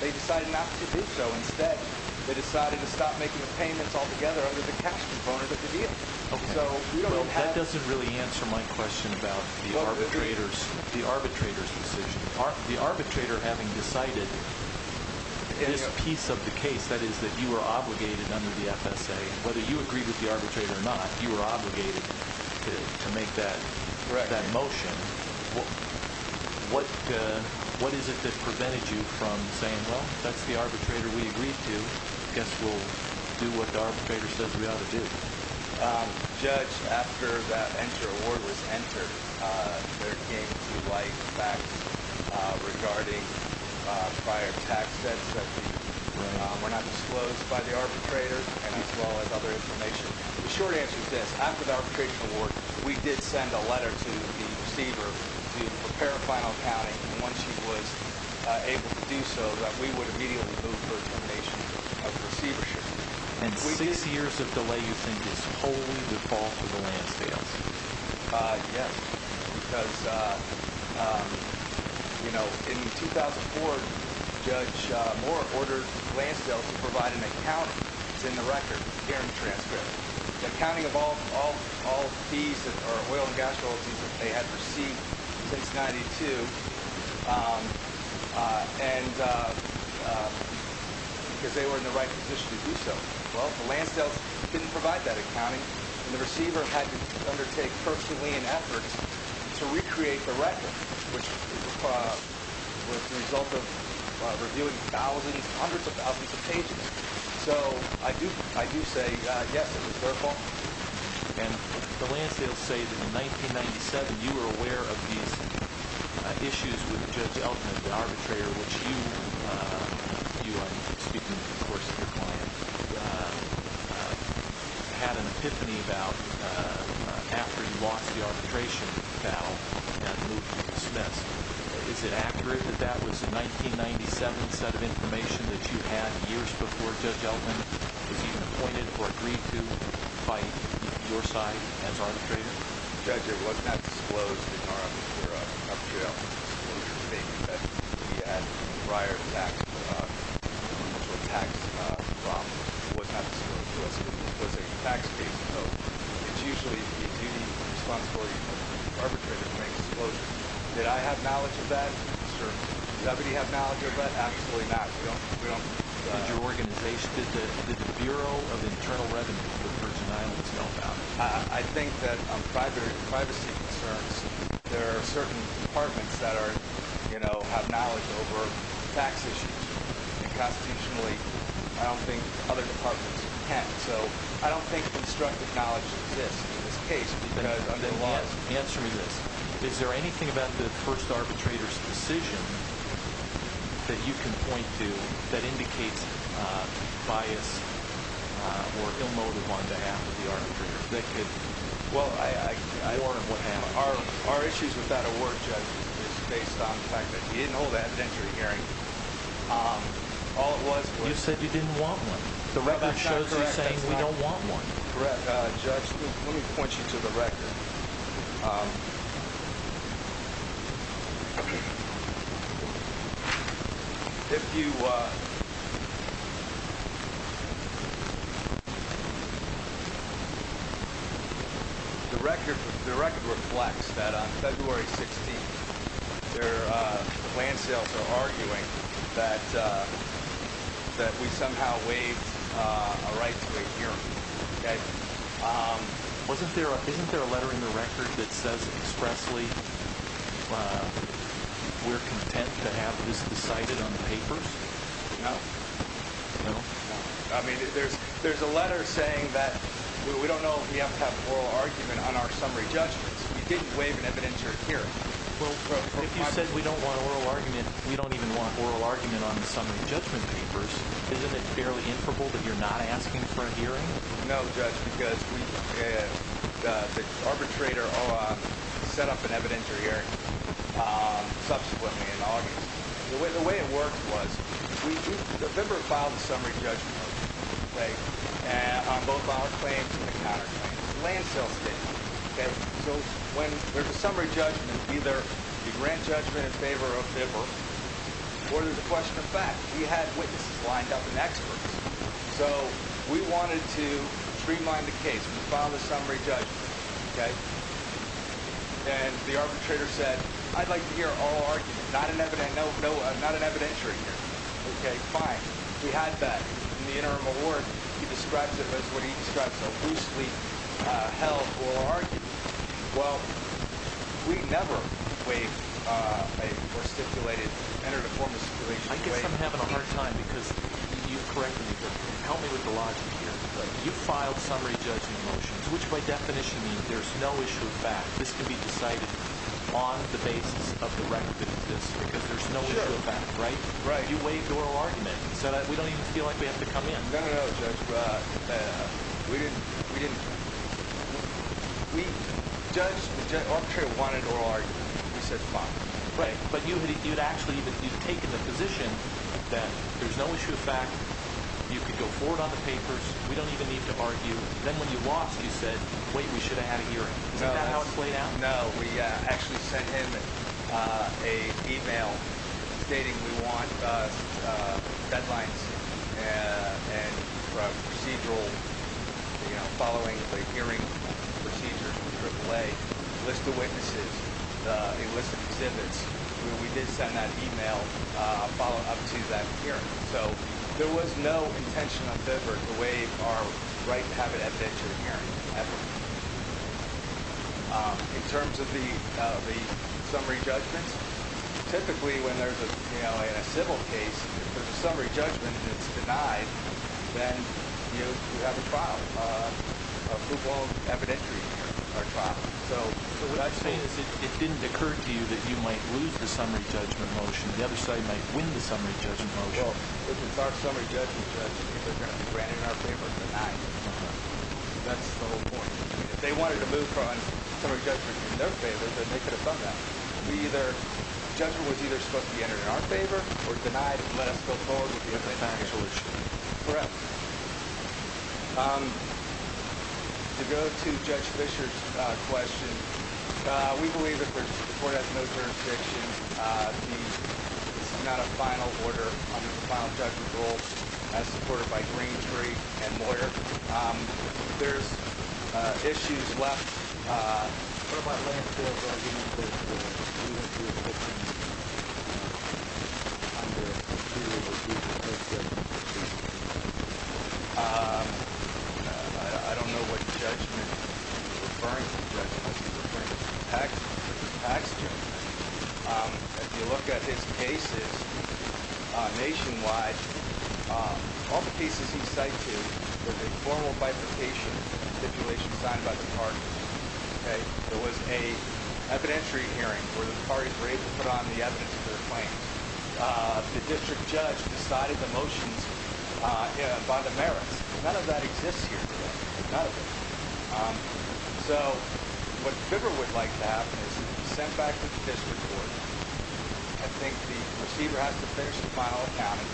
they decided not to do so. Instead, they decided to stop making the payments altogether under the cash component of the deal. So we don't have – Well, that doesn't really answer my question about the arbitrator's decision. The arbitrator having decided this piece of the case, that is, that you were obligated under the FSA, whether you agreed with the arbitrator or not, you were obligated to make that motion. What is it that prevented you from saying, well, if that's the arbitrator we agreed to, I guess we'll do what the arbitrator says we ought to do? Judge, after that award was entered, there came to light facts regarding prior tax debts that were not disclosed by the arbitrator and as well as other information. The short answer is this. After the arbitration award, we did send a letter to the receiver to prepare a final accounting. And once he was able to do so, we would immediately move to a termination of the receivership. And six years of delay, you think, is wholly the fault of the Lansdales? Yes. Because, you know, in 2004, Judge Moore ordered Lansdales to provide an accounting. It's in the record here in the transcript. It's accounting of all fees or oil and gas royalties that they had received since 1992. And because they were in the right position to do so. Well, the Lansdales didn't provide that accounting. And the receiver had to undertake personally an effort to recreate the record, which was the result of reviewing thousands, hundreds of thousands of pages. So I do say yes, it was their fault. And the Lansdales say that in 1997, you were aware of these issues with Judge Elkman, the arbitrator, which you, you and, of course, your client, had an epiphany about after you lost the arbitration battle and moved to dismiss. Is it accurate that that was the 1997 set of information that you had years before Judge Elkman was even appointed or agreed to fight your side as arbitrator? Judge, it was not disclosed in our up-to-date disclosure statement that we had prior tax profits. It was not disclosed to us. It was a tax-based note. It's usually the duty and responsibility of the arbitrator to make disclosures. Did I have knowledge of that? Certainly. Did everybody have knowledge of that? Absolutely not. We don't. Did your organization, did the Bureau of Internal Revenue for Virgin Islands know about it? I think that on privacy concerns, there are certain departments that are, you know, have knowledge over tax issues. And constitutionally, I don't think other departments can. So, I don't think constructive knowledge exists in this case because under the law— Answer me this. Is there anything about the first arbitrator's decision that you can point to that indicates bias or ill-motive on behalf of the arbitrator that could warrant what happened? Our issues with that award, Judge, is based on the fact that he didn't hold an absentiary hearing. All it was was— You said you didn't want one. The record shows you saying we don't want one. Correct. Judge, let me point you to the record. If you—the record reflects that on February 16th, the land sales are arguing that we somehow waived a right to a hearing. Wasn't there—isn't there a letter in the record that says expressly we're content to have this decided on the papers? No. No? No. I mean, there's a letter saying that we don't know if we have to have oral argument on our summary judgments. We didn't waive an evidentiary hearing. Well, if you said we don't want oral argument, we don't even want oral argument on the summary judgment papers. Isn't it fairly improbable that you're not asking for a hearing? No, Judge, because we—the arbitrator set up an evidentiary hearing subsequently in August. The way it worked was the member filed a summary judgment on both our claims and the counterclaims. The land sales did. So when there's a summary judgment, either you grant judgment in favor of the member or there's a question of fact. We had witnesses lined up and experts, so we wanted to streamline the case. We filed a summary judgment, and the arbitrator said I'd like to hear oral argument, not an evidentiary hearing. Okay, fine. We had that. In the interim award, he describes it as what he describes as a loosely held oral argument. Well, we never waived a—or stipulated—entered a formal stipulation to waive— I guess I'm having a hard time because you've corrected me, but help me with the logic here. You filed summary judgment motions, which by definition means there's no issue of fact. This can be decided on the basis of the record that it exists because there's no issue of fact, right? Right. You waived oral argument so that we don't even feel like we have to come in. No, no, no, Judge. We didn't—we didn't—we judged—the arbitrator wanted oral argument. We said fine. Right, but you'd actually—you'd taken the position that there's no issue of fact. You could go forward on the papers. We don't even need to argue. Then when you lost, you said, wait, we should have had a hearing. Is that how it played out? No, we actually sent him an email stating we want deadlines and procedural, you know, following the hearing procedures, a list of witnesses, a list of exhibits. We did send that email following up to that hearing. So there was no intentional effort to waive our right to have an evidentiary hearing ever. In terms of the summary judgments, typically when there's a—you know, in a civil case, if there's a summary judgment and it's denied, then, you know, you have a trial, a full-blown evidentiary hearing or trial. So what I'm saying is it didn't occur to you that you might lose the summary judgment motion. The other side might win the summary judgment motion. Well, if it's our summary judgment, Judge, it's either going to be granted in our favor or denied. Okay. That's the whole point. If they wanted to move from summary judgment in their favor, then they could have done that. The judgment was either supposed to be entered in our favor or denied and let us go forward with the evidence. Correct. To go to Judge Fischer's question, we believe that the court has no jurisdiction. It's not a final order under the final judgment rule as supported by green jury and lawyer. There's issues left. I don't know what judgment he's referring to. He's referring to tax judgment. If you look at his cases nationwide, all the cases he cited were the formal bifurcation stipulations signed by the parties. Okay. There was an evidentiary hearing where the parties were able to put on the evidence of their claims. The district judge decided the motions by the merits. None of that exists here today. None of it. So what FIBR would like to have is sent back to the district court. I think the receiver has to finish the final accounting,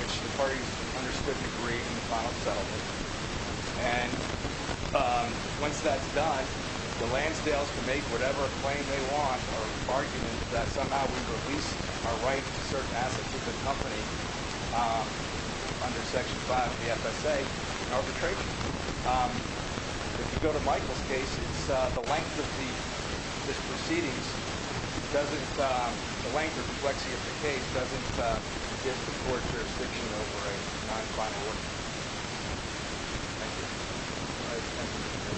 which the parties understood to agree in the final settlement. And once that's done, the Lansdales can make whatever claim they want or argument that somehow we've released our rights to certain assets of the company under Section 5 of the FSA in arbitration. If you go to Michael's case, it's the length of the proceedings. The length of the case doesn't give the court jurisdiction over a non-final order. Thank you. All right. Thank you.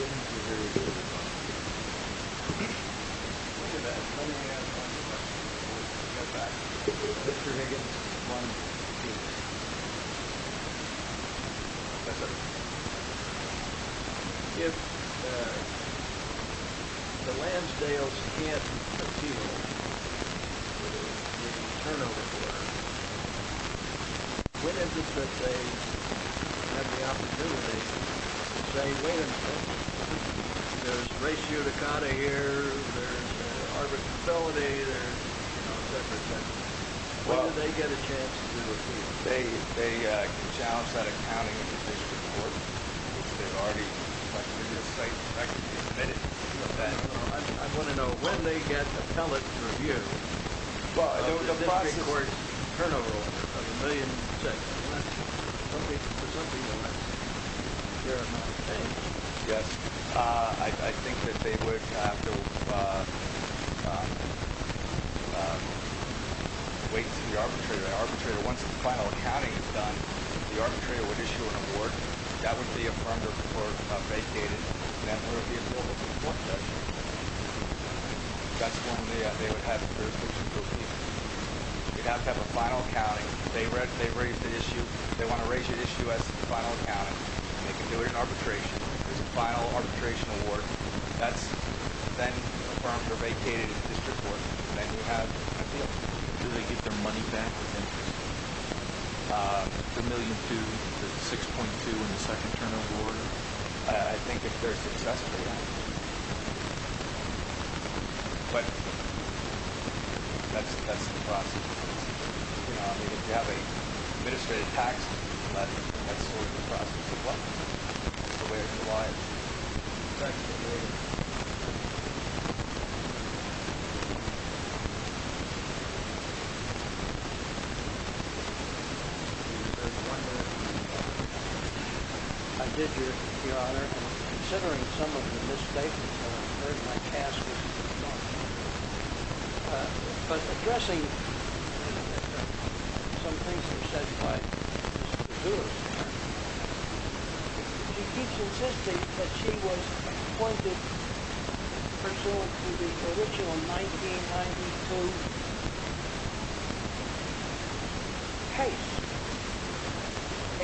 All right. All right. All right. Bye-bye. I look forward to hearing from you. Thank you. Thank you. Thank you. Thank you. Thank you. Thank you. Thank you. Christian, I just wanted to ask if the Lansdales can't achieve what the district judge said, and have the opportunity to say, wait a minute, there's ratioed accounting here, there's arbitrability, there's, you know, separate sections. When do they get a chance to do it? They can challenge that accounting in the district court. They've already, like, through this site, practically admitted to that. I want to know when they get appellate review of the district court's turnover of a million checks. Okay. Yes. I think that they would have to wait until the arbitrator. The arbitrator, once the final accounting is done, the arbitrator would issue an award. That would be affirmed or vacated. And that would be approved by the court judge. That's when they would have the jurisdiction. You'd have to have a final accounting. They raise the issue. They want to raise the issue as final accounting. They can do it in arbitration. There's a final arbitration award. That's then affirmed or vacated in the district court. Then you have appeal. Do they get their money back? The million to 6.2 in the second term of order. I think if they're successful, yeah. But that's the process. If you have an administrative tax, that's sort of the process. That's the way it's applied. I did, Your Honor, considering some of the mistakes, very much asked. But addressing some things that are said by Mr. Lewis, he keeps insisting that she was appointed pursuant to the original 1992 case.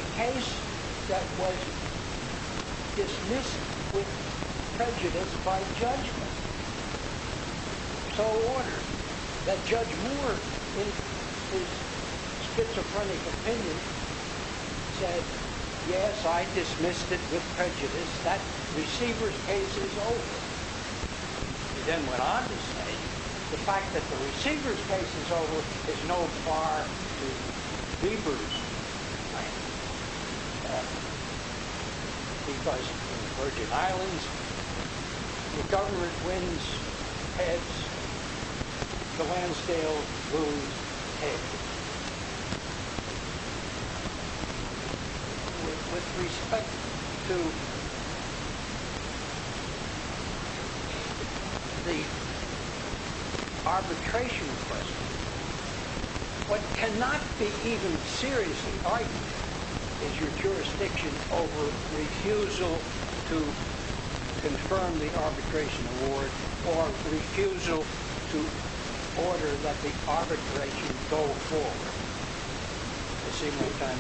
A case that was dismissed with prejudice by judgment. So ordered that Judge Moore, in his schizophrenic opinion, said, yes, I dismissed it with prejudice. That receiver's case is over. He then went on to say the fact that the receiver's case is over is no far to Bieber's plan. Because the Virgin Islands, the government wins heads, the Lansdale wounds heads. With respect to the arbitration request, what cannot be even seriously argued is your jurisdiction over refusal to confirm the arbitration award or refusal to order that the arbitration go forward a single time itself. In fact, both counsel are on that. It's very helpful. We can take care of these matters.